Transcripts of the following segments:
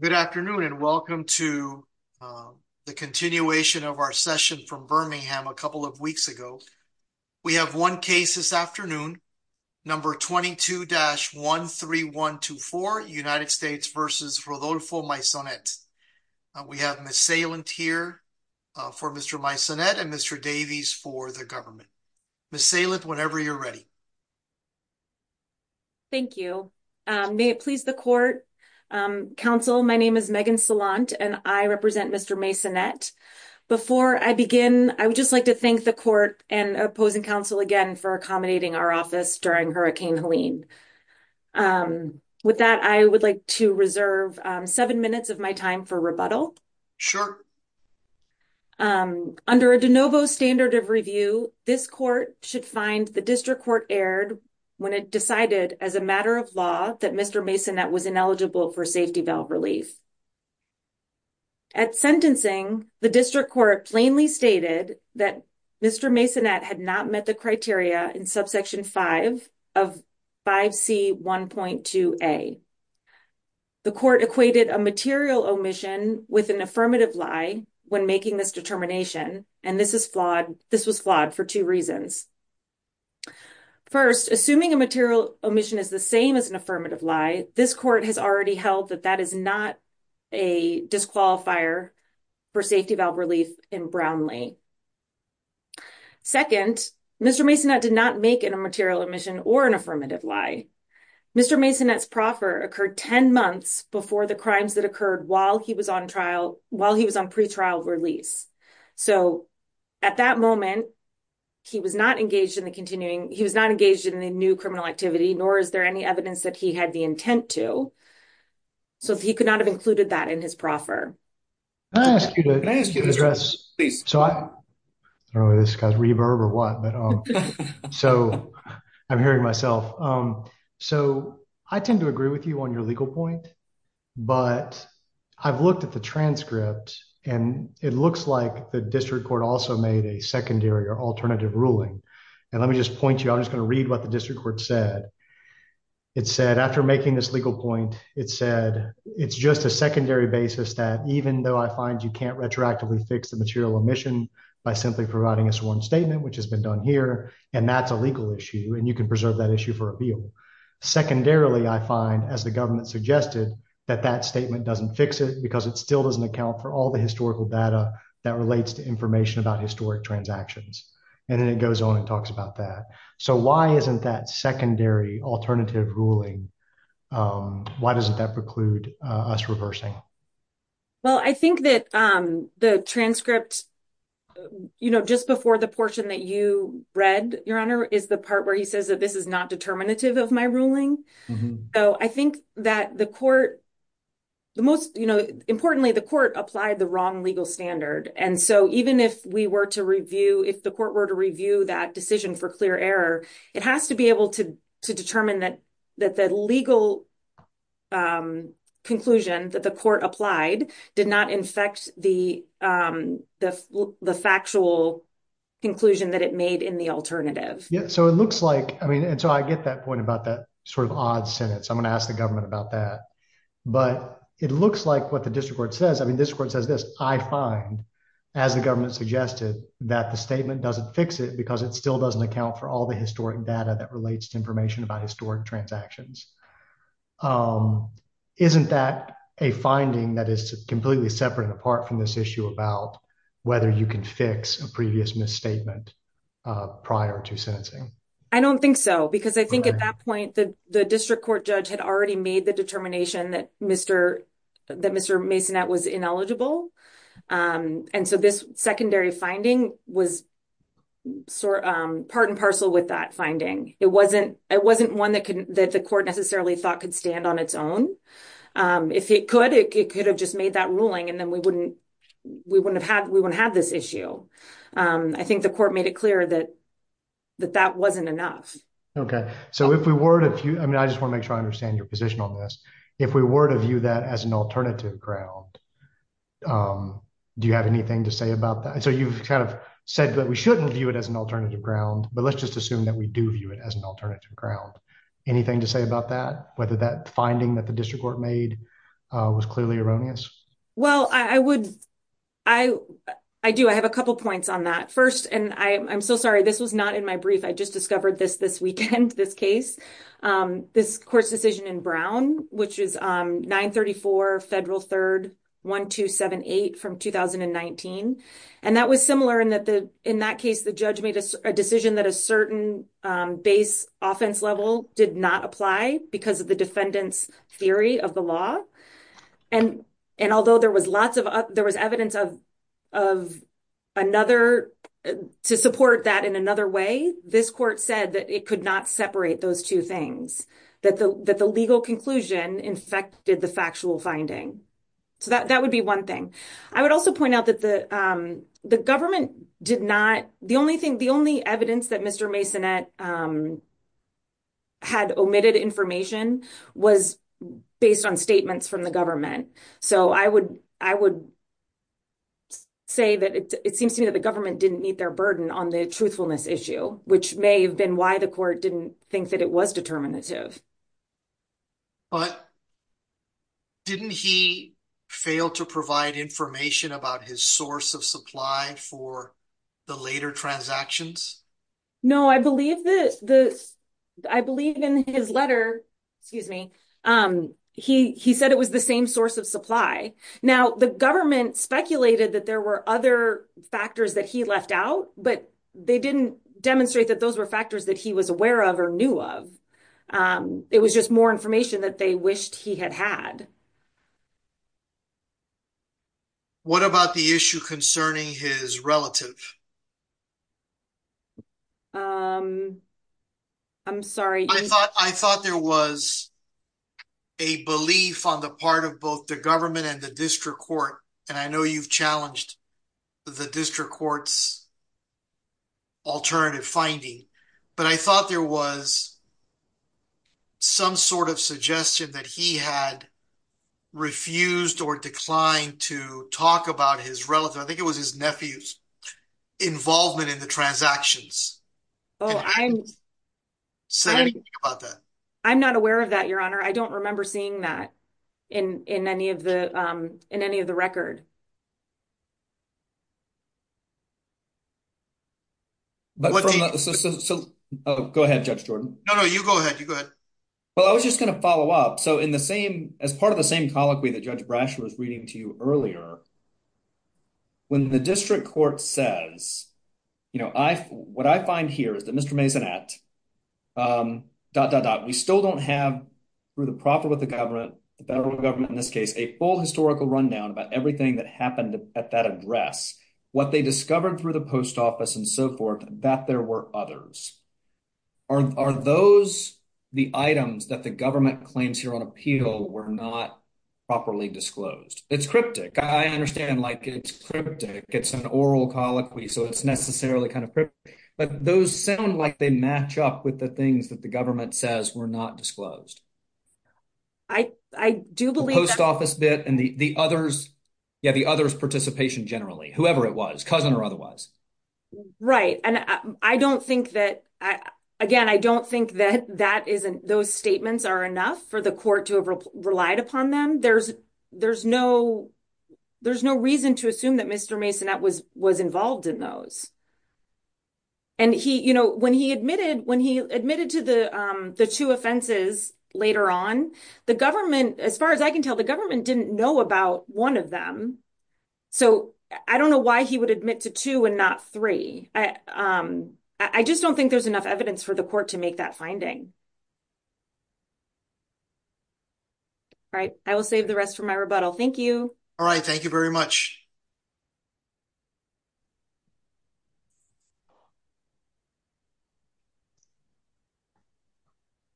Good afternoon and welcome to the continuation of our session from Birmingham a couple of weeks ago. We have one case this afternoon, number 22-13124, United States v. Rodolfo Maisonet. We have Ms. Salent here for Mr. Maisonet and Mr. Davies for the government. Ms. Salent, whenever you're ready. Ms. Salent Thank you. May it please the Court, counsel, my name is Megan Salent and I represent Mr. Maisonet. Before I begin, I would just like to thank the Court and opposing counsel again for accommodating our office during Hurricane Helene. With that, I would like to reserve seven minutes of my time for rebuttal. Under a de novo standard of review, this Court should find the District Court erred when it decided as a matter of law that Mr. Maisonet was ineligible for safety valve relief. At sentencing, the District Court plainly stated that Mr. Maisonet had not met the criteria in subsection 5 of 5C1.2a. The Court equated a material omission with an affirmative lie when making this determination, and this was flawed for two reasons. First, assuming a material omission is the same as an affirmative lie, this Court has already held that that is not a disqualifier for safety valve relief in Brownlee. Second, Mr. Maisonet did not make a material omission or an affirmative lie. Mr. Maisonet's proffer occurred 10 months before the crimes that occurred while he was on pre-trial release. So, at that moment, he was not engaged in any new criminal activity, nor is there any evidence that he had the intent to, so he could not have included that in his proffer. Can I ask you to address, so I don't know whether this guy's reverb or what, but so I'm hearing myself. So, I tend to agree with you on your legal point, but I've looked at the transcript, and it looks like the District Court also made a secondary or alternative ruling, and let me just point you, I'm just going to read what the District Court said. It said, after making this legal point, it said, it's just a secondary basis that even though I find you can't retroactively fix the material omission by simply providing a sworn statement, which has been done here, and that's a legal issue, and you can preserve that issue for appeal. Secondarily, I find, as the government suggested, that that statement doesn't fix it because it still doesn't account for all the historical data that relates to information about historic transactions. And then it goes on and talks about that. So, why isn't that secondary alternative ruling, why doesn't that preclude us reversing? Well, I think that the transcript, you know, just before the portion that you read, Your Honor, is the part where he says that this is not determinative of my ruling. So, I think that the court, the most, you know, importantly, the court applied the wrong legal standard. And so, even if we were to review, if the court were to review that decision for clear error, it has to be able to determine that the legal conclusion that the court applied did not infect the factual conclusion that it made in the alternative. Yeah, so it looks like, I mean, and so I get that point about that sort of odd sentence. I'm going to ask the government about that. But it looks like what the district court says, I mean, this court says this, I find, as the government suggested, that the statement doesn't fix it because it still doesn't account for all the historic data that relates to information about historic transactions. Isn't that a finding that is completely separate and apart from this issue about whether you can fix a previous misstatement prior to sentencing? I don't think so, because I had already made the determination that Mr. Masonette was ineligible. And so, this secondary finding was sort of part and parcel with that finding. It wasn't one that the court necessarily thought could stand on its own. If it could, it could have just made that ruling and then we wouldn't have had this issue. I think the court made it clear that that wasn't enough. Okay, so if we were to view, I mean, I just want to make sure I understand your position on this. If we were to view that as an alternative ground, do you have anything to say about that? So, you've kind of said that we shouldn't view it as an alternative ground, but let's just assume that we do view it as an alternative ground. Anything to say about that? Whether that finding that the district court made was clearly erroneous? Well, I would, I do, I have a couple points on that. First, and I'm so sorry, this was not in my brief. I just discovered this this weekend, this case, this court's decision in Brown, which is 934 Federal 3rd 1278 from 2019. And that was similar in that the, in that case, the judge made a decision that a certain base offense level did not apply because of the defendant's theory of the law. And although there was lots of, there was evidence of another, to support that in another way, this court said that it could not separate those two things, that the legal conclusion infected the factual finding. So, that would be one thing. I would also point out that the government did not, the only thing, the only evidence that Mr. Masonette had omitted information was based on statements from the government. So, I would say that it seems to me that the government didn't meet their burden on the truthfulness issue, which may have been why the court didn't think that it was determinative. But didn't he fail to provide information about his source of supply for the later transactions? No, I believe this, I believe in his letter, excuse me, he said it was the same source of supply. Now, the government speculated that there were other factors that he left out, but they didn't demonstrate that those were factors that he was aware of or knew of. It was just more information that they wished he had had. What about the issue concerning his relative? Um, I'm sorry. I thought there was a belief on the part of both the government and the district court, and I know you've challenged the district court's alternative finding, but I thought there was some sort of suggestion that he had refused or declined to talk about his relative, I think it was in the transactions. Oh, I'm not aware of that, your honor. I don't remember seeing that in any of the record. Oh, go ahead, Judge Jordan. No, no, you go ahead. You go ahead. Well, I was just going to follow up. So, as part of the same colloquy that Judge Brasher was to you earlier, when the district court says, you know, what I find here is that Mr. Maisonette, dot, dot, dot, we still don't have through the profit with the government, the federal government in this case, a full historical rundown about everything that happened at that address. What they discovered through the post office and so forth, that there were others. Are those the items that the government claims here on appeal were not properly disclosed? It's cryptic. I understand, like, it's cryptic. It's an oral colloquy, so it's necessarily kind of cryptic. But those sound like they match up with the things that the government says were not disclosed. The post office bit and the others. Yeah, the others' participation generally, whoever it was, cousin or otherwise. Right. And I don't think that, again, I don't think that those statements are enough for the court to have relied upon them. There's there's no there's no reason to assume that Mr. Masonette was was involved in those. And he, you know, when he admitted when he admitted to the the two offenses later on, the government, as far as I can tell, the government didn't know about one of them. So I don't know why he would admit to two and not three. I just don't think there's enough evidence for the court to make that finding. All right. I will save the rest for my rebuttal. Thank you. All right. Thank you very much.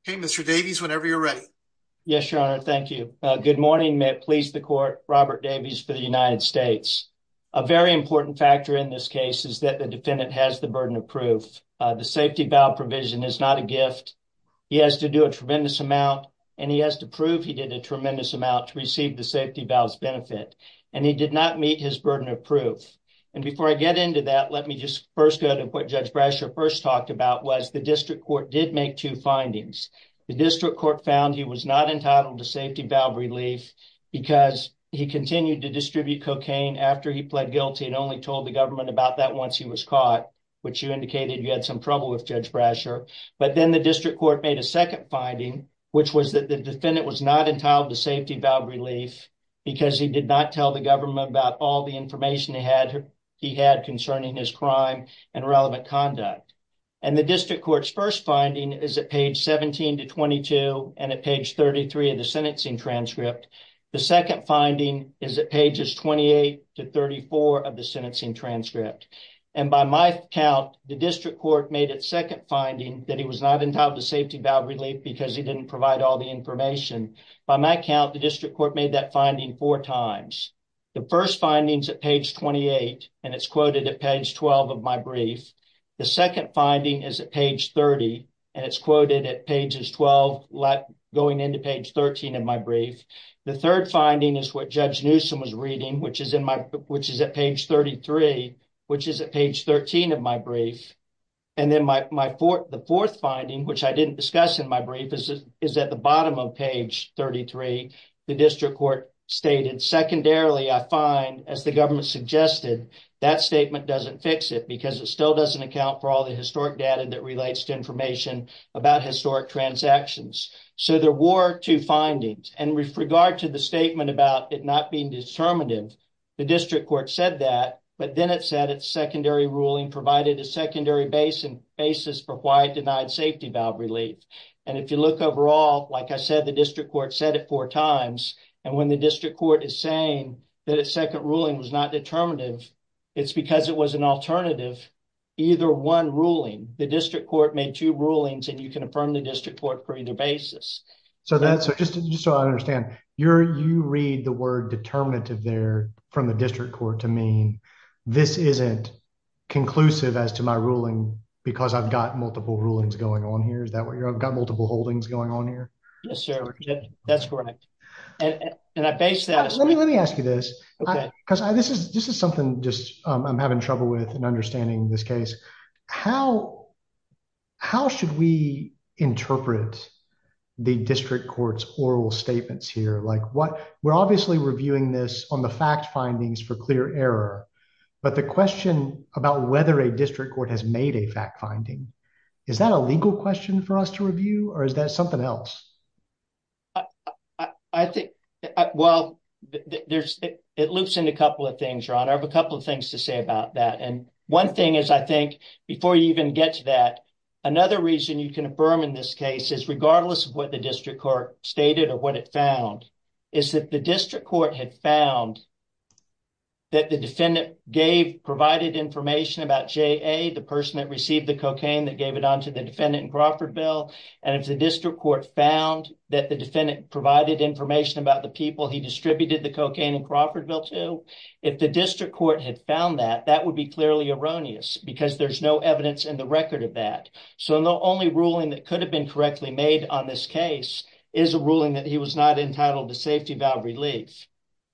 Hey, Mr. Davies, whenever you're ready. Yes, your honor. Thank you. Good morning. May it please the court. Robert Davies for the United States. A very important factor in this case is that the he has to do a tremendous amount and he has to prove he did a tremendous amount to receive the safety valves benefit. And he did not meet his burden of proof. And before I get into that, let me just first go to what Judge Brasher first talked about was the district court did make two findings. The district court found he was not entitled to safety valve relief because he continued to distribute cocaine after he pled guilty and only told the government about that once he was caught, which you indicated you had some trouble with Judge Brasher. But then the district court made a second finding, which was that the defendant was not entitled to safety valve relief because he did not tell the government about all the information he had he had concerning his crime and relevant conduct. And the district court's first finding is at page 17 to 22 and at page 33 of the sentencing transcript. The second finding is at pages 28 to 34 of the sentencing transcript. And by my count, the district court made its finding that he was not entitled to safety valve relief because he didn't provide all the information. By my count, the district court made that finding four times. The first finding is at page 28 and it's quoted at page 12 of my brief. The second finding is at page 30 and it's quoted at pages 12 going into page 13 of my brief. The third finding is what Judge Newsom was reading, which is at page 33, which is at page 13 of my brief. And then the fourth finding, which I didn't discuss in my brief, is at the bottom of page 33. The district court stated, secondarily, I find, as the government suggested, that statement doesn't fix it because it still doesn't account for all the historic data that relates to information about historic transactions. So there were two findings. And with regard to the statement about it not being determinative, the district court said that, but then it said its secondary ruling provided a secondary basis for why it denied safety valve relief. And if you look overall, like I said, the district court said it four times. And when the district court is saying that its second ruling was not determinative, it's because it was an alternative. Either one ruling, the district court made two rulings, and you can affirm the district court for either basis. So just so I understand, you read the word determinative there from the district court to mean this isn't conclusive as to my ruling because I've got multiple rulings going on here? Is that what you're, I've got multiple holdings going on here? Yes, sir. That's correct. And I base that. Let me ask you this, because this is something just I'm having trouble with and understanding this case. How, how should we interpret the district court's oral statements here? Like what we're obviously reviewing this on the fact findings for clear error. But the question about whether a district court has made a fact finding, is that a legal question for us to review? Or is that something else? I, I think, well, there's, it loops into a couple of things, Your Honor. I have a couple of things to say about that. And one thing is, I think, before you even get to that, another reason you can affirm in this case is regardless of what the district court stated or what it found, is that the district court had found that the defendant gave, provided information about J.A., the person that received the cocaine that gave it on to the defendant in Crawfordville. And if the district court found that the defendant provided information about the people he distributed the cocaine in Crawfordville to, if the district court had found that, that would be clearly erroneous because there's no evidence in the record of that. So the only ruling that could have been correctly made on this case is a ruling that he was not entitled to safety valve relief.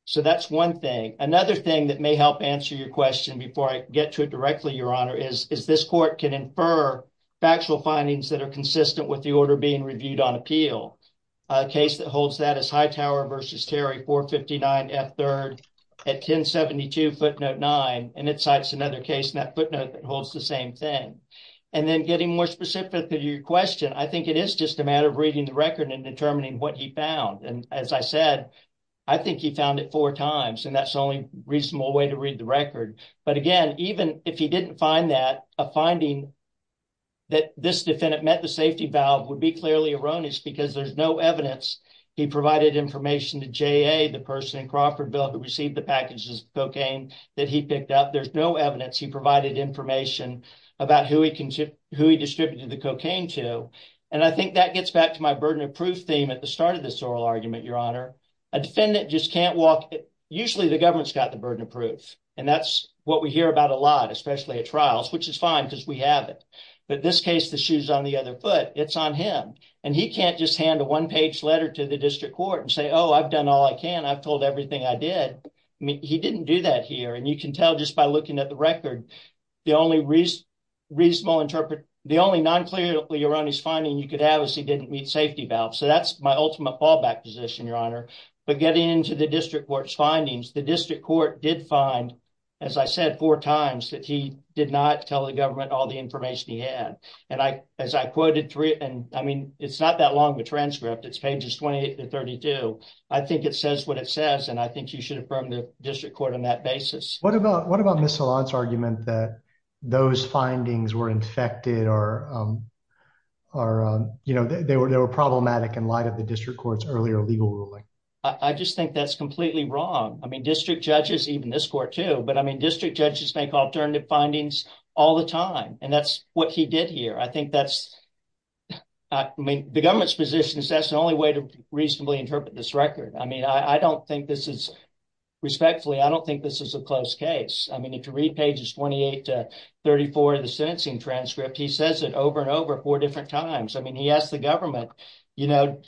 So that's one thing. Another thing that may help answer your question before I get to it directly, Your Honor, is, is this court can infer factual findings that are consistent with the order being reviewed on appeal. A case that holds that is Hightower v. Terry, 459 F. 3rd at 1072 footnote 9. And it cites another case in that footnote that holds the same thing. And then getting more specific to your question, I think it is just a matter of reading the record and determining what he found. And as I said, I think he found it four times and that's the only reasonable way to read the record. But again, even if he didn't find that, a finding that this defendant met the safety valve would be clearly erroneous because there's no evidence he provided information to JA, the person in Crawfordville that received the packages of cocaine that he picked up. There's no evidence he provided information about who he distributed the cocaine to. And I think that gets back to my burden of proof theme at the start of this oral argument, Your Honor. A defendant just can't walk. Usually the government's got the burden of proof. And that's what we hear about a lot, especially at trials, which is fine because we have it. But this case, the shoe's on the other foot. It's on him. And he can't just hand a one-page letter to the district court and say, oh, I've done all I can. I've told everything I did. I mean, he didn't do that here. And you can tell just by looking at the record, the only reasonable interpret, the only non-clearly erroneous finding you could have is he didn't meet safety valve. So that's my ultimate fallback position, Your Honor. But getting into the district court's findings, the district court did find, as I said, four times that he did not tell the government all the information he had. And I, as I quoted three, and I mean, it's not that long of a transcript. It's pages 28 to 32. I think it says what it says. And I think you should affirm the district court on that basis. What about, what about Ms. Salant's argument that those findings were infected or, um, or, um, you know, they were, they were problematic in light of the district court's earlier legal ruling? I just think that's completely wrong. I mean, district judges, even this court too, but I mean, district judges make alternative findings all the time. And that's what he did here. I think that's, I mean, the government's position is that's the only way to reasonably interpret this record. I mean, I don't think this is, respectfully, I don't think this is a close case. I mean, if you read pages 28 to 34 of the sentencing transcript, he says it over and over four different times. I mean, he asked the government, you know,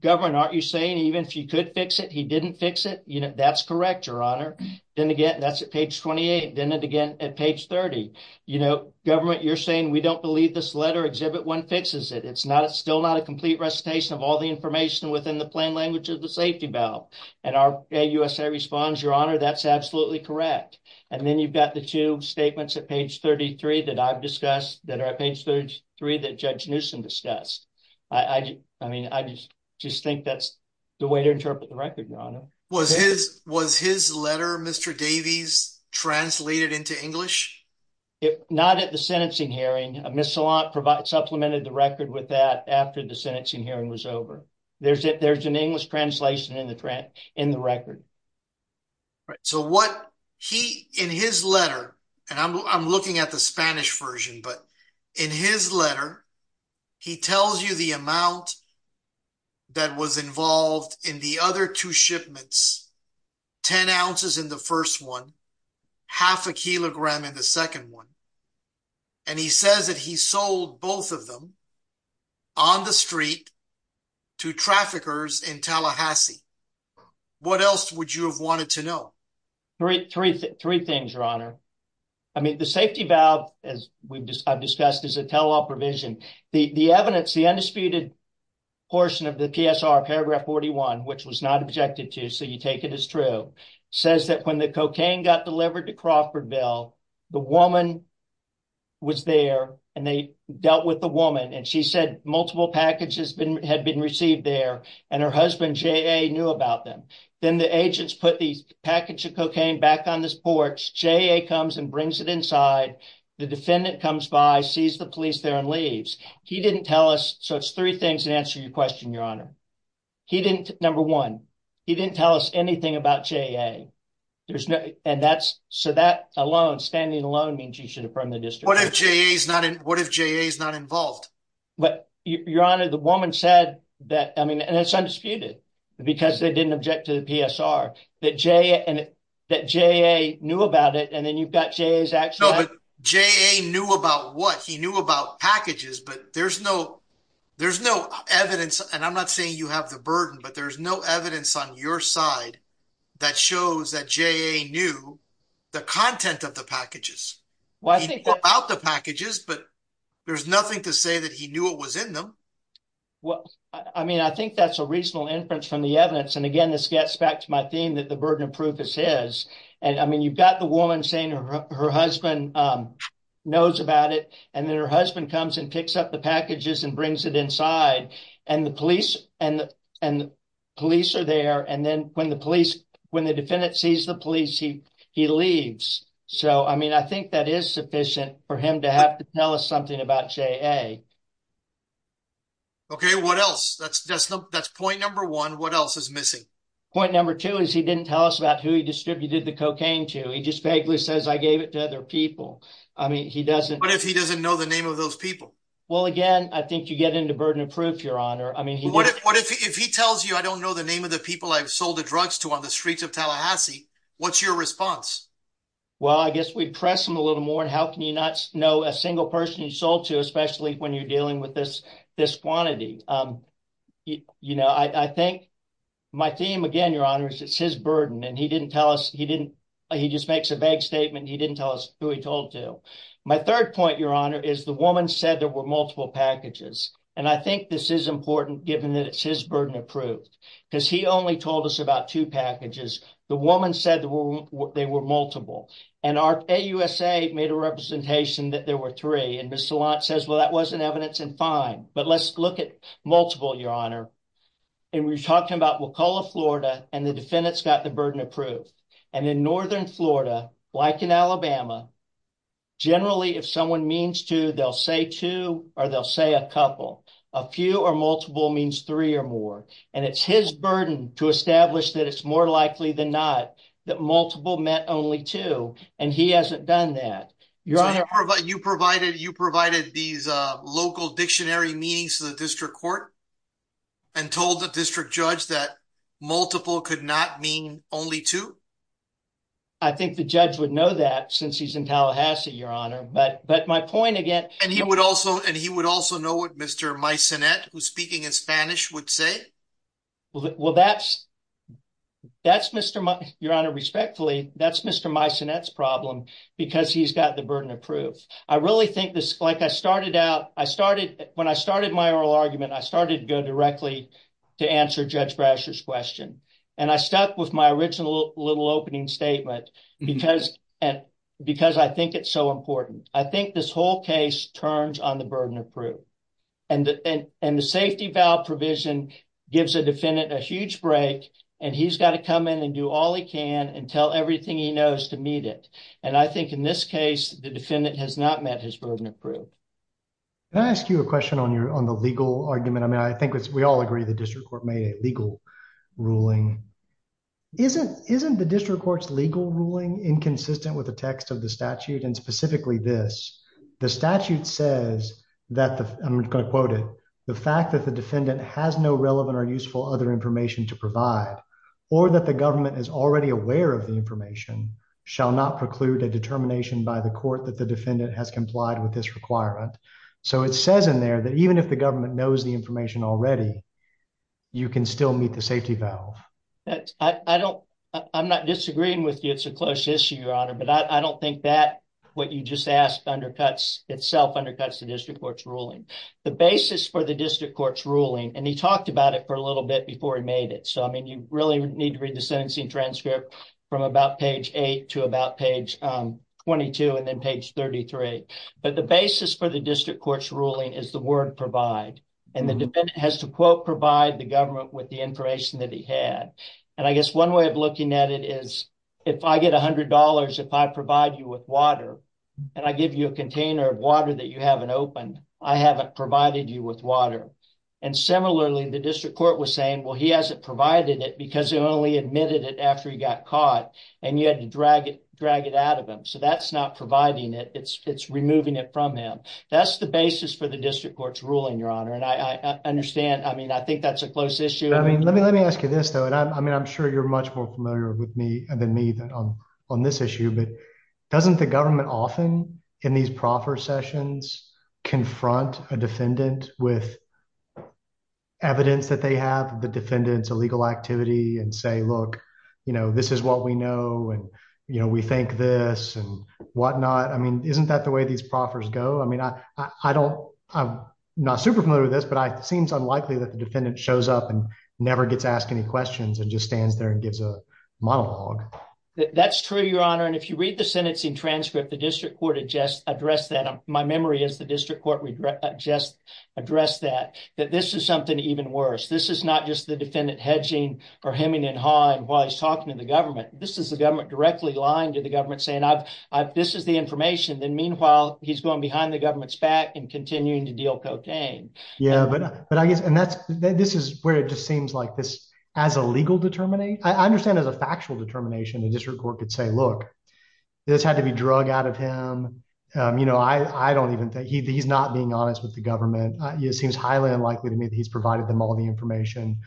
government, aren't you saying even if you could fix it, he didn't fix it? You know, that's correct, your honor. Then again, that's at page 28. Then again, at page 30, you know, government, you're saying we don't believe this letter exhibit one fixes it. It's not, it's still not a complete recitation of all the information within the plain language of the safety valve. And our AUSA responds, your honor, that's absolutely correct. And then you've got the two statements at page 33 that I've discussed that are at page 33 that Judge Newsom discussed. I mean, I just think that's the way to interpret the record, your honor. Was his letter, Mr. Davies, translated into English? Not at the sentencing hearing. Ms. Salant supplemented the record with that after the sentencing hearing was over. There's an English translation in the record. So what he, in his letter, and I'm looking at the Spanish version, but in his letter, he tells you the amount that was involved in the other two shipments, 10 ounces in the first one, half a kilogram in the second one. And he says that he sold both of them on the street to traffickers in Tallahassee. What else would you have wanted to know? Three things, your honor. I mean, the safety valve, as I've discussed, is a tell-all provision. The evidence, the undisputed portion of the PSR, paragraph 41, which was not objected to, so you take it as true, says that when the cocaine got delivered to Crawfordville, the woman was there and they dealt with the woman. And she said multiple packages had been received there and her husband, J.A., knew about them. Then the agents put the package of cocaine back on this porch. J.A. comes and brings it inside. The defendant comes by, sees the police there, and leaves. He didn't tell us. So it's three things that answer your question, your honor. Number one, he didn't tell us anything about J.A. So that alone, standing alone, means you should affirm the district. What if J.A.'s not involved? But your honor, the woman said that, I mean, and it's undisputed, because they didn't object to the PSR, that J.A. knew about it, and then you've got J.A.'s action. No, but J.A. knew about what? He knew about packages, but there's no evidence, and I'm not saying you have the burden, but there's no evidence on your side that shows that J.A. knew the content of the packages. He put out the packages, but there's nothing to say that he knew what was in them. Well, I mean, I think that's a reasonable inference from the evidence, and again, this gets back to my theme that the burden of proof is his. And I mean, you've got the woman saying her husband knows about it, and then her husband comes and picks up the packages and brings it inside, and the police are there, and then when the defendant sees the police, he leaves. So, I mean, I think that is sufficient for him to have to tell us something about J.A. Okay, what else? That's point number one. What else is missing? Point number two is he didn't tell us about who he distributed the cocaine to. He just vaguely says, I gave it to other people. I mean, he doesn't... What if he doesn't know the name of those people? Well, again, I think you get into burden of proof, Your Honor. I mean... But what if he tells you, I don't know the name of the people I've sold the drugs to on the streets of Tallahassee? What's your response? Well, I guess we press him a little more, and how can you not know a single person you sold to, especially when you're dealing with this quantity? You know, I think my theme, again, Your Honor, is it's his burden, and he didn't tell us, he didn't, he just makes a vague statement, he didn't tell us who he told to. My third point, Your Honor, is the woman said there were multiple packages, and I think this is important, given that it's his burden of proof, because he only told us about two packages. The woman said they were multiple, and AUSA made a representation that there were three, and Ms. Salant says, well, that wasn't evidence, and fine, but let's look at multiple, Your Honor, and we're talking about Wakulla, Florida, and the defendants got the burden of proof, and in northern Florida, like in Alabama, generally, if someone means two, they'll say two, or they'll say a couple. A few or multiple means three or more, and it's his burden to establish that it's more likely than not that multiple meant only two, and he hasn't done that. You provided these local dictionary meetings to the district court, and told the district judge that multiple could not mean only two? I think the judge would know that, since he's in Tallahassee, Your Honor, but my point, again- And he would also know what Mr. Meissanet, who's speaking in Spanish, would say? Well, that's Mr., Your Honor, respectfully, that's Mr. Meissanet's problem, because he's the burden of proof. I really think this, like I started out, when I started my oral argument, I started to go directly to answer Judge Brasher's question, and I stuck with my original little opening statement, because I think it's so important. I think this whole case turns on the burden of proof, and the safety valve provision gives a defendant a huge break, and he's got to come in and do all he can, and tell everything he knows to meet it, and I think in this case, the defendant has not met his burden of proof. Can I ask you a question on the legal argument? I mean, I think we all agree the district court made a legal ruling. Isn't the district court's legal ruling inconsistent with the text of the statute, and specifically this? The statute says that the, I'm going to quote it, the fact that the defendant has no relevant or useful other information to provide, or that the government is already aware of the information, shall not preclude a determination by the court that the defendant has complied with this requirement, so it says in there that even if the government knows the information already, you can still meet the safety valve. I don't, I'm not disagreeing with you. It's a close issue, your honor, but I don't think that what you just asked undercuts itself, undercuts the district court's ruling. The basis for the district court's ruling, and he talked about it for a little bit before he made it, so I mean, you really need to read the sentencing transcript from about page 8 to about page 22, and then page 33, but the basis for the district court's ruling is the word provide, and the defendant has to quote provide the government with the information that he had, and I guess one way of looking at it is, if I get a hundred dollars, if I provide you with water, and I give you a container of water that you haven't opened, I haven't provided you with water, and similarly, the district court was saying, well, he hasn't provided it because he only admitted it after he got caught, and you had to drag it, drag it out of him, so that's not providing it. It's removing it from him. That's the basis for the district court's ruling, your honor, and I understand, I mean, I think that's a close issue. I mean, let me, let me ask you this, though, and I mean, I'm sure you're much more familiar with me than me on this issue, but doesn't the government often in these proffer sessions confront a defendant with evidence that they have, the defendant's illegal activity, and say, look, you know, this is what we know, and you know, we think this, and whatnot. I mean, isn't that the way these proffers go? I mean, I, I don't, I'm not super familiar with this, but it seems unlikely that the defendant shows up and never gets asked any questions and just stands there and gives a monologue. That's true, your honor, and if you read the sentencing transcript, the district court had just addressed that. My memory is the district court just addressed that, that this is something even worse. This is not just the defendant hedging or hemming and hawing while he's talking to the government. This is the government directly lying to the government saying, I've, I've, this is the information. Then, meanwhile, he's going behind the government's back and continuing to deal cocaine. Yeah, but, but I guess, and that's, this is where it just seems like this, as a legal determination, I understand as a factual determination, the district court could say, look, this had to be drug out of him. You know, I, I don't even think he, he's not being honest with the government. It seems highly unlikely to me that he's provided them all the information.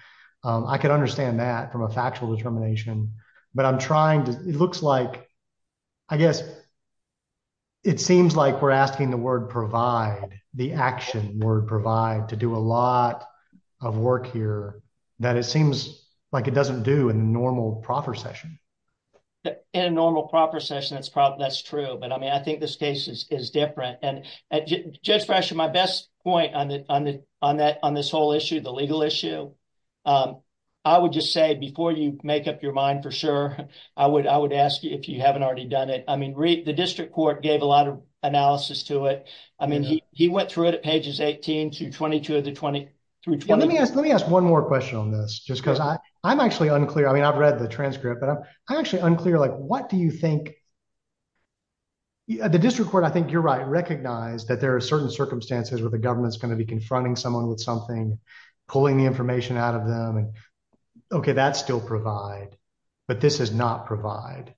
I can understand that from a factual determination, but I'm trying to, it looks like, I guess, it seems like we're asking the word provide, the action word provide to do a lot of work here that it seems like it doesn't do in the normal proper session. In a normal proper session, that's probably, that's true. But I mean, I think this case is, is different. And Judge Frasher, my best point on the, on the, on that, on this whole issue, the legal issue, I would just say, before you make up your mind, for sure, I would, I would ask you if you haven't already done it. I mean, the district court gave a lot of analysis to it. I mean, he, he went through it at pages 18 through 22 of the 23. Let me ask, let me ask one more question on this, just because I, I'm actually unclear. I mean, I've read the transcript, but I'm actually unclear, like, what do you think, the district court, I think you're right, recognize that there are certain circumstances where the government's going to be confronting someone with something, pulling the information out of them, and okay, that's still provide, but this is not provide.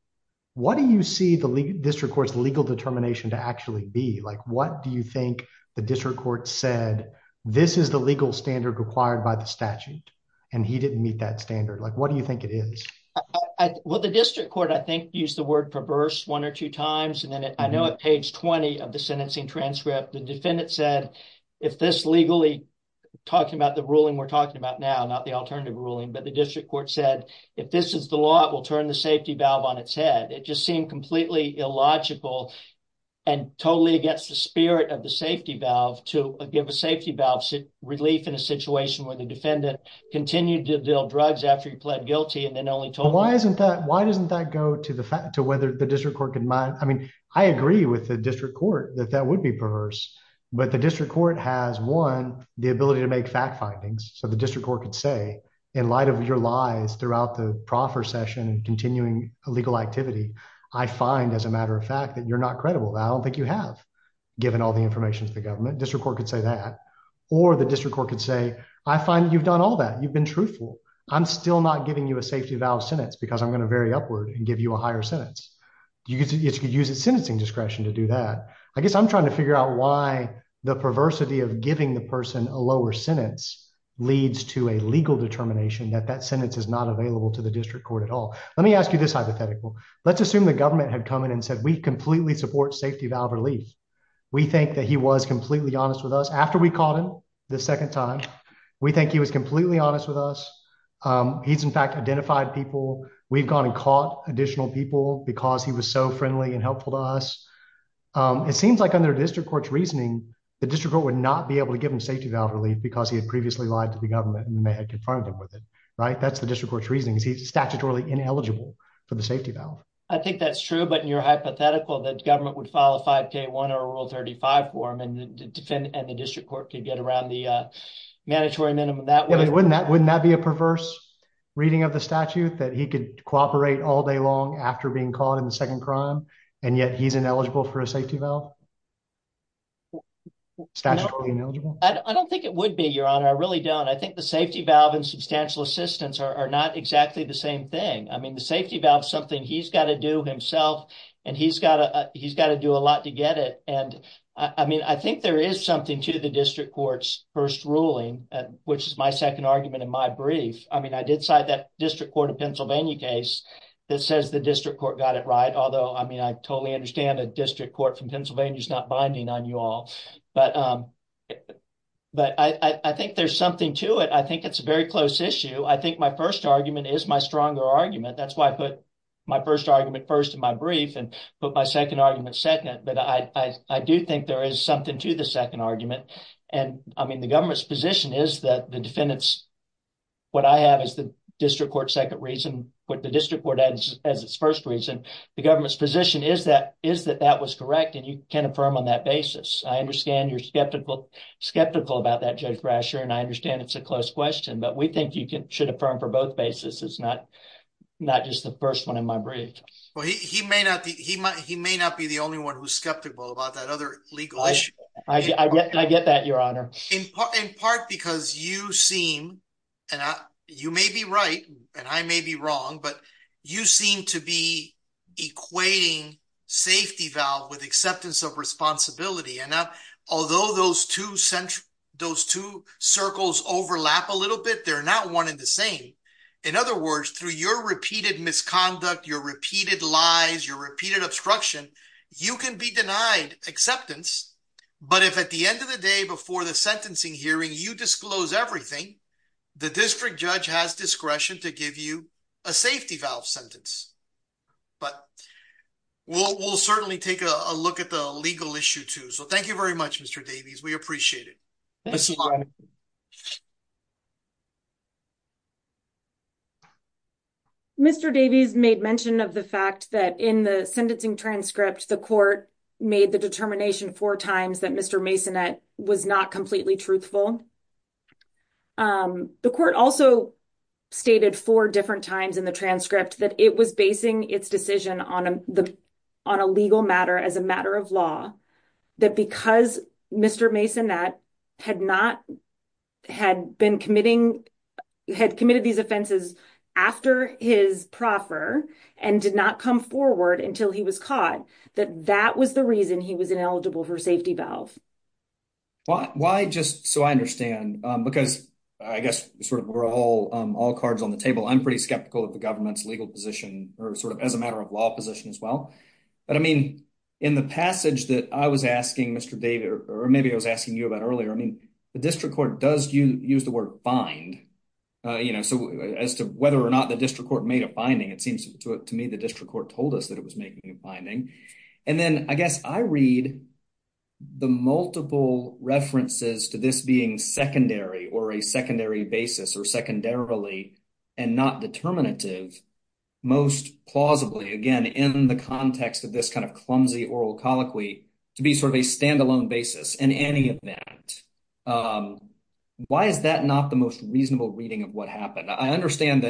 What do you see the district court's legal determination to actually be? Like, what do you think the district court said, this is the legal standard required by the statute, and he didn't meet that standard? Like, what do you think it is? Well, the district court, I think, used the word perverse one or two times, and then I know at page 20 of the sentencing transcript, the defendant said, if this legally, talking about the ruling we're talking about now, not the alternative ruling, but the district court said, if this is the law, it will turn the safety valve on its head. It just seemed completely illogical, and totally against the spirit of the safety valve to give a safety valve relief in a situation where the defendant continued to deal drugs after he pled guilty, and then only told. Why isn't that, why doesn't that go to the fact, to whether the district court can, I mean, I agree with the district court that that would be perverse, but the district court has, one, the ability to make fact findings, so the district court could say, in light of your lies throughout the proffer session and continuing legal activity, I find, as a matter of fact, that you're not credible. I don't think you have, given all the information to the government. District court could say that, or the district court could say, I find you've done all that. You've been truthful. I'm still not giving you a safety valve sentence because I'm going to vary upward and give you a higher sentence. You could use a sentencing discretion to do that. I guess I'm trying to figure out why the perversity of giving the person a lower sentence leads to a legal determination that that sentence is not available to the district court at all. Let me ask you this hypothetical. Let's assume the government had come in and said, we completely support safety valve relief. We think that he was completely honest with us. After we caught him the second time, we think he was completely honest with us. He's, in fact, identified people. We've gone and caught additional people because he was so friendly and helpful to us. It seems like under district court's reasoning, the district court would not be able to give him safety valve relief because he had previously lied to the government and they had confronted him with it, right? That's the district court's reasoning. He's statutorily ineligible for the safety valve. I think that's true, but in your hypothetical, the government would file a 5k1 or a rule 35 form and the district court could get around the mandatory minimum. Yeah, but wouldn't that be a perverse reading of the statute that he could cooperate all day long after being caught in the second crime, and yet he's ineligible for a safety valve? Statutorily ineligible? I don't think it would be, Your Honor. I really don't. I think the safety valve and substantial assistance are not exactly the same thing. I mean, the safety valve is something he's got to do himself, and he's got to do a lot to get it. And I mean, I think there is something to the district court's first ruling, which is my second argument in my brief. I mean, I did cite that district court of Pennsylvania case that says the district court got it right, although I mean, I totally understand a district court from Pennsylvania is not binding on you all. But I think there's something to it. I think it's a very close issue. I think my first argument is my stronger argument. That's why I put my first argument first in my brief and put my second argument second. But I do think there is something to the second argument. And I mean, the government's position is that the defendants, what I have is the district court's second reason, what the district court has as its first reason. The government's position is that that was correct, and you can affirm on that basis. I understand you're skeptical about that, Judge Brasher, and I understand it's a close question, but we think you should affirm for both bases. It's not just the first one in my brief. Well, he may not be the only one who's skeptical about that other legal issue. I get that, Your Honor. In part because you seem, and you may be right and I may be wrong, but you seem to be equating safety valve with acceptance of responsibility. And now, although those two circles overlap a little bit, they're not one and the same. In other words, through your repeated misconduct, your repeated lies, your repeated obstruction, you can be denied acceptance. But if at the end of the day, before the sentencing hearing, you disclose everything, the district judge has discretion to give you a safety valve sentence. But we'll certainly take a look at the legal issue too. So thank you very much, Mr. Davies. We appreciate it. Mr. Davies made mention of the fact that in the sentencing transcript, the court made the determination four times that Mr. Masonette was not completely truthful. The court also stated four different times in the transcript that it was basing its decision on a legal matter as a matter of law, that because Mr. Masonette had committed these offenses after his proffer and did not come forward until he was caught, that that was reason he was ineligible for safety valve. Why just so I understand, because I guess sort of we're all cards on the table, I'm pretty skeptical of the government's legal position or sort of as a matter of law position as well. But I mean, in the passage that I was asking Mr. Davies, or maybe I was asking you about earlier, I mean, the district court does use the word bind, you know, so as to whether or not the district court made a finding, it seems to me the district court told us that it was making a finding. And then I guess I read the multiple references to this being secondary or a secondary basis or secondarily and not determinative, most plausibly, again, in the context of this kind of clumsy oral colloquy, to be sort of a standalone basis in any event. Why is that not the most reasonable reading of what happened? I understand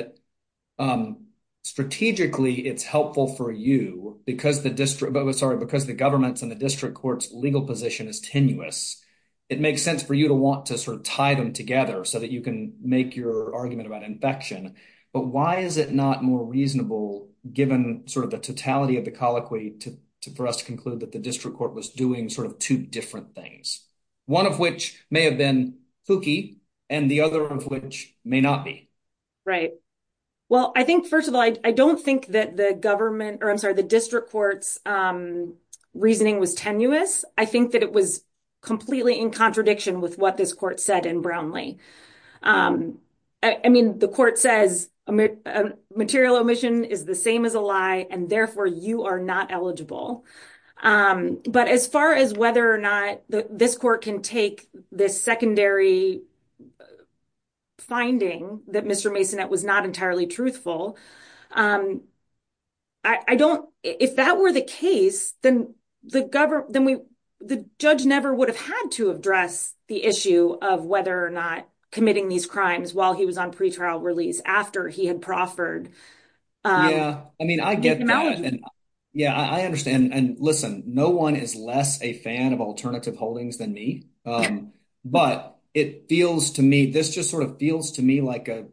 that strategically, it's helpful for you, because the district, sorry, because the government's and the district court's legal position is tenuous. It makes sense for you to want to sort of tie them together so that you can make your argument about infection. But why is it not more reasonable, given sort of the totality of the colloquy to for us to conclude that the district court was doing sort of two different things, one of which may have been kooky, and the other of which may Right. Well, I think first of all, I don't think that the government or I'm sorry, the district court's reasoning was tenuous. I think that it was completely in contradiction with what this court said in Brownlee. I mean, the court says material omission is the same as a lie, and therefore you are not eligible. But as far as whether or not this court can take this secondary finding that Mr. Masonette was not entirely truthful, I don't, if that were the case, then the government, then we, the judge never would have had to address the issue of whether or not committing these crimes while he was on pretrial release after he had proffered. Yeah, I mean, I get it. Yeah, I understand. And listen, no one is less a fan of alternative holdings than me. But it feels to me, this just sort of feels to me like a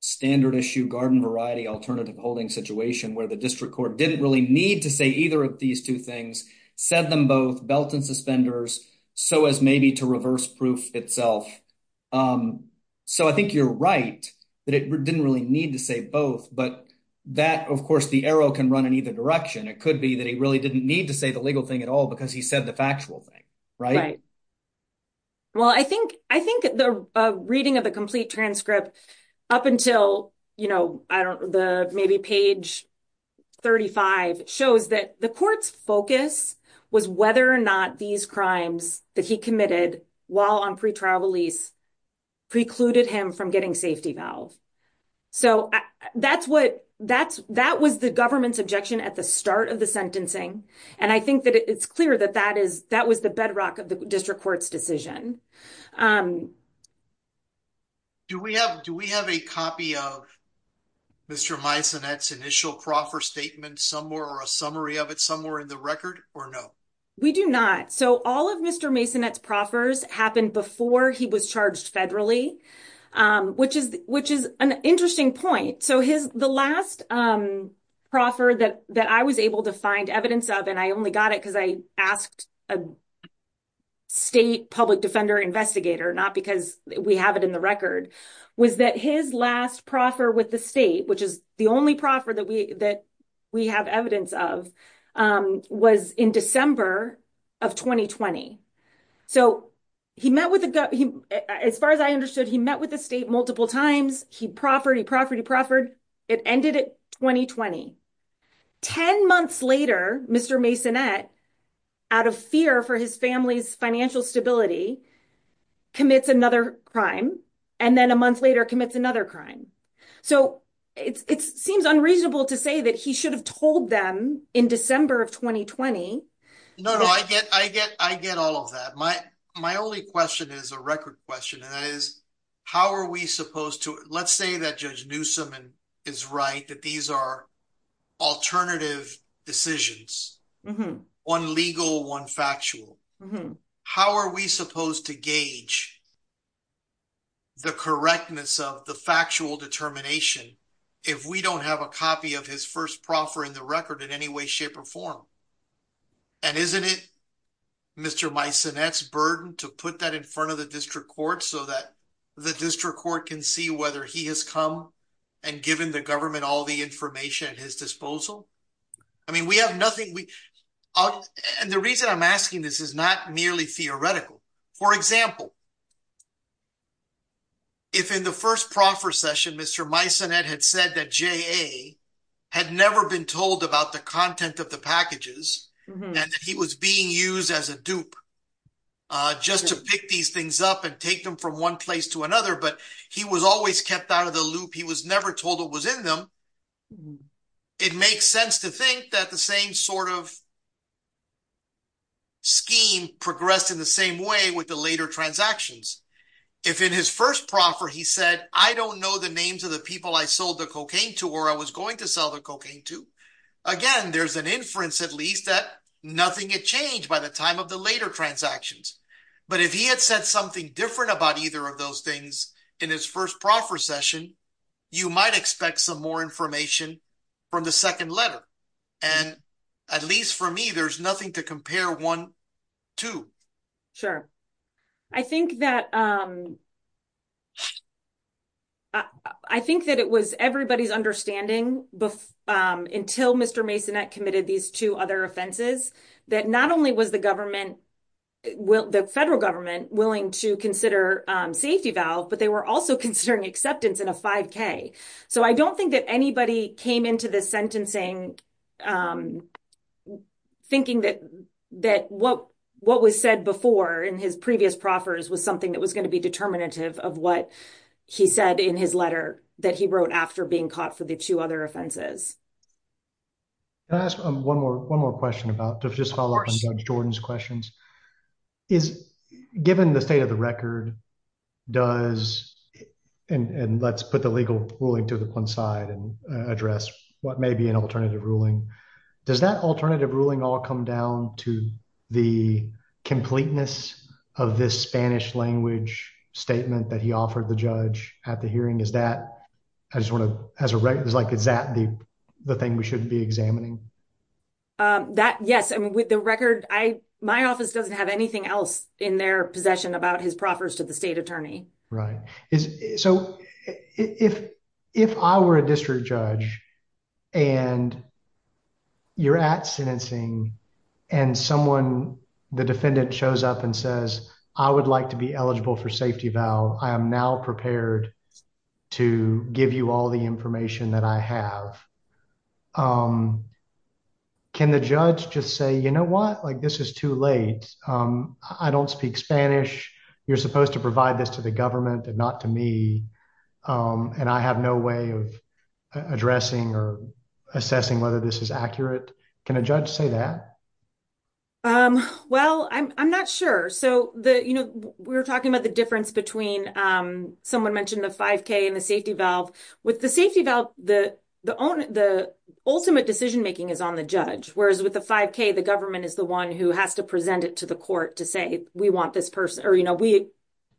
standard issue garden variety alternative holding situation where the district court didn't really need to say either of these two things, said them both, belt and suspenders, so as maybe to reverse proof itself. So I think you're right, that it didn't really need to say both. But that, of course, the arrow can run in either direction. It could be that he really didn't need to say the legal thing at all, because he said the factual thing, right? Well, I think the reading of the complete transcript up until, you know, I don't know, the maybe page 35 shows that the court's focus was whether or not these crimes that he committed while on pretrial release precluded him from getting safety valve. So that's what, that was the government's objection at the start of the sentencing. And I think that it's clear that that is, that was the bedrock of the district court's decision. Do we have, do we have a copy of Mr. Masonette's initial proffer statement somewhere or a summary of it somewhere in the record or no? We do not. So all of Mr. Masonette's proffers happened before he was charged federally, which is, which is an interesting point. So his, the last proffer that I was able to find evidence of, and I only got it because I asked a state public defender investigator, not because we have it in the record, was that his last proffer with the state, which is the only proffer that we have evidence of, was in December of 2020. So he met with, as far as I understood, he met with the state multiple times. He proffered, he proffered, he proffered. It ended at 2020. 10 months later, Mr. Masonette, out of fear for his family's financial stability, commits another crime. And then a month later commits another crime. So it's, it seems unreasonable to say that he should have told them in December of 2020. No, no, I get, I get, I get all of that. My, my only question is a record question, and that is, how are we supposed to, let's say that Judge Newsom is right, that these are alternative decisions, one legal, one factual. How are we supposed to gauge the correctness of the factual determination if we don't have a copy of his first proffer in the record in any way, shape, or form? And isn't it Mr. Masonette's burden to put that in front of the district court so that the district court can see whether he has come and given the government all the information at his disposal? I mean, we have nothing, we, and the reason I'm asking this is not merely theoretical. For example, if in the first proffer session, Mr. Masonette had said that J.A. had never been told about the content of the packages, and he was being used as a dupe just to pick these things up and take them from one place to another, but he was always kept out of the loop, he was never told what was in them, it makes sense to think that the same sort of scheme progressed in the same way with the later transactions. If in his first proffer he said, I don't know the names of the people I sold the cocaine to, or I was going to sell the cocaine to, again, there's an inference at least that nothing had changed by the time of the later transactions. But if he had said something different about either of those things in his first proffer session, you might expect some more information from the second letter. And at least for me, there's nothing to compare one to. Sure. I think that it was everybody's understanding until Mr. Masonette committed these two other offenses, that not only was the federal government willing to consider safety valve, but they were also considering acceptance in a 5k. So I don't think that anybody came into the sentencing thinking that what was said before in his previous proffers was something that was going to be determinative of what he said in his letter that he wrote after being caught for the two other offenses. Can I ask one more question about, just to follow up on Judge Jordan's questions, is given the state of the record does, and let's put the legal ruling to one side and address what may be an alternative ruling, does that alternative ruling all come down to the completeness of this Spanish language statement that he offered the judge at the hearing? Is that the thing we shouldn't be examining? Yes. And with the record, my office doesn't have anything else in their possession about his proffers to the state attorney. Right. So if I were a district judge and you're at sentencing and someone, the defendant shows up and says, I would like to be eligible for safety valve. I am now prepared to give you all the information that I have. Can the judge just say, you know what, like this is late. I don't speak Spanish. You're supposed to provide this to the government and not to me. And I have no way of addressing or assessing whether this is accurate. Can a judge say that? Well, I'm not sure. So the, you know, we were talking about the difference between someone mentioned the 5k and the safety valve with the safety valve. The ultimate decision is on the judge. Whereas with the 5k, the government is the one who has to present it to the court to say, we want this person or, you know, we,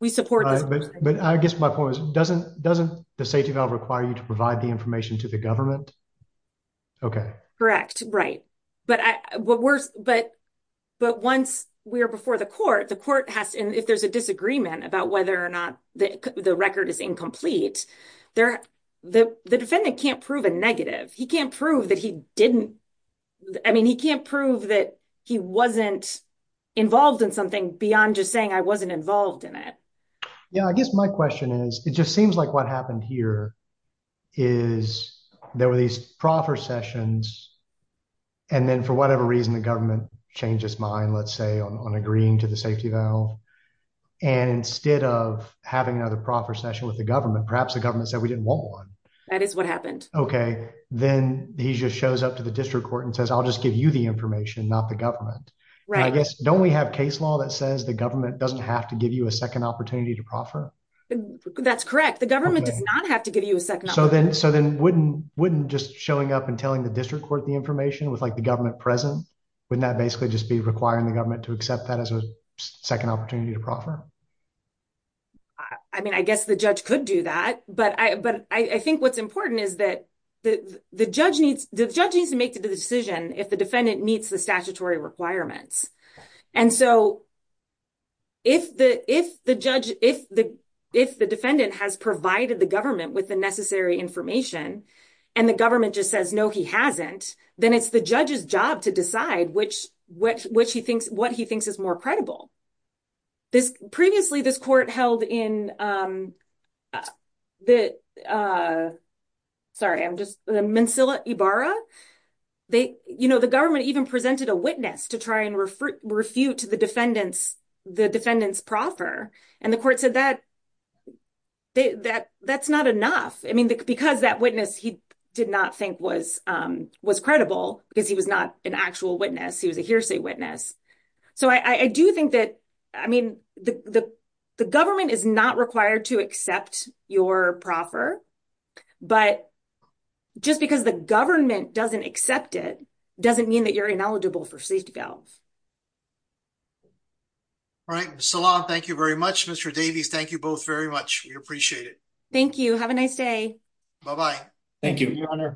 we support this. But I guess my point is doesn't, doesn't the safety valve require you to provide the information to the government? Okay. Correct. Right. But I, but we're, but, but once we are before the court, the court has, and if there's a disagreement about whether or not the record is incomplete there, the defendant can't prove a negative. He can't prove that he didn't. I mean, he can't prove that he wasn't involved in something beyond just saying, I wasn't involved in it. Yeah. I guess my question is, it just seems like what happened here is there were these proper sessions. And then for whatever reason, the government changed his mind, let's say on, on agreeing to the safety valve. And instead of having another proper session with the government, perhaps the government said we didn't want one. That is what happened. Okay. Then he just shows up to the district court and says, I'll just give you the information, not the government. Right. I guess, don't we have case law that says the government doesn't have to give you a second opportunity to proffer? That's correct. The government does not have to give you a second. So then, so then wouldn't, wouldn't just showing up and telling the district court, the information with like the government present, wouldn't that basically just be requiring the government to accept that as a second opportunity to proffer? I mean, I guess the judge could do that, but I, but I think what's important is that the, the judge needs, the judge needs to make the decision if the defendant meets the statutory requirements. And so if the, if the judge, if the, if the defendant has provided the government with the necessary information and the government just says, no, he hasn't, then it's the judge's job to decide which, which, which he thinks, what he thinks is more credible. This previously, this court held in the, sorry, I'm just the Mansilla Ibarra. They, you know, the government even presented a witness to try and refute to the defendants, the defendants proffer. And the court said that, that, that's not enough. I mean, because that witness, he did not think was, was credible because he was not an actual witness. He was a hearsay witness. So I do think that, I mean, the, the, the government is not required to accept your proffer, but just because the government doesn't accept it doesn't mean that you're ineligible for safety valve. All right. So long. Thank you very much, Mr. Davies. Thank you both very much. We appreciate it. Thank you. Have a nice day. Bye-bye. Thank you, your honor.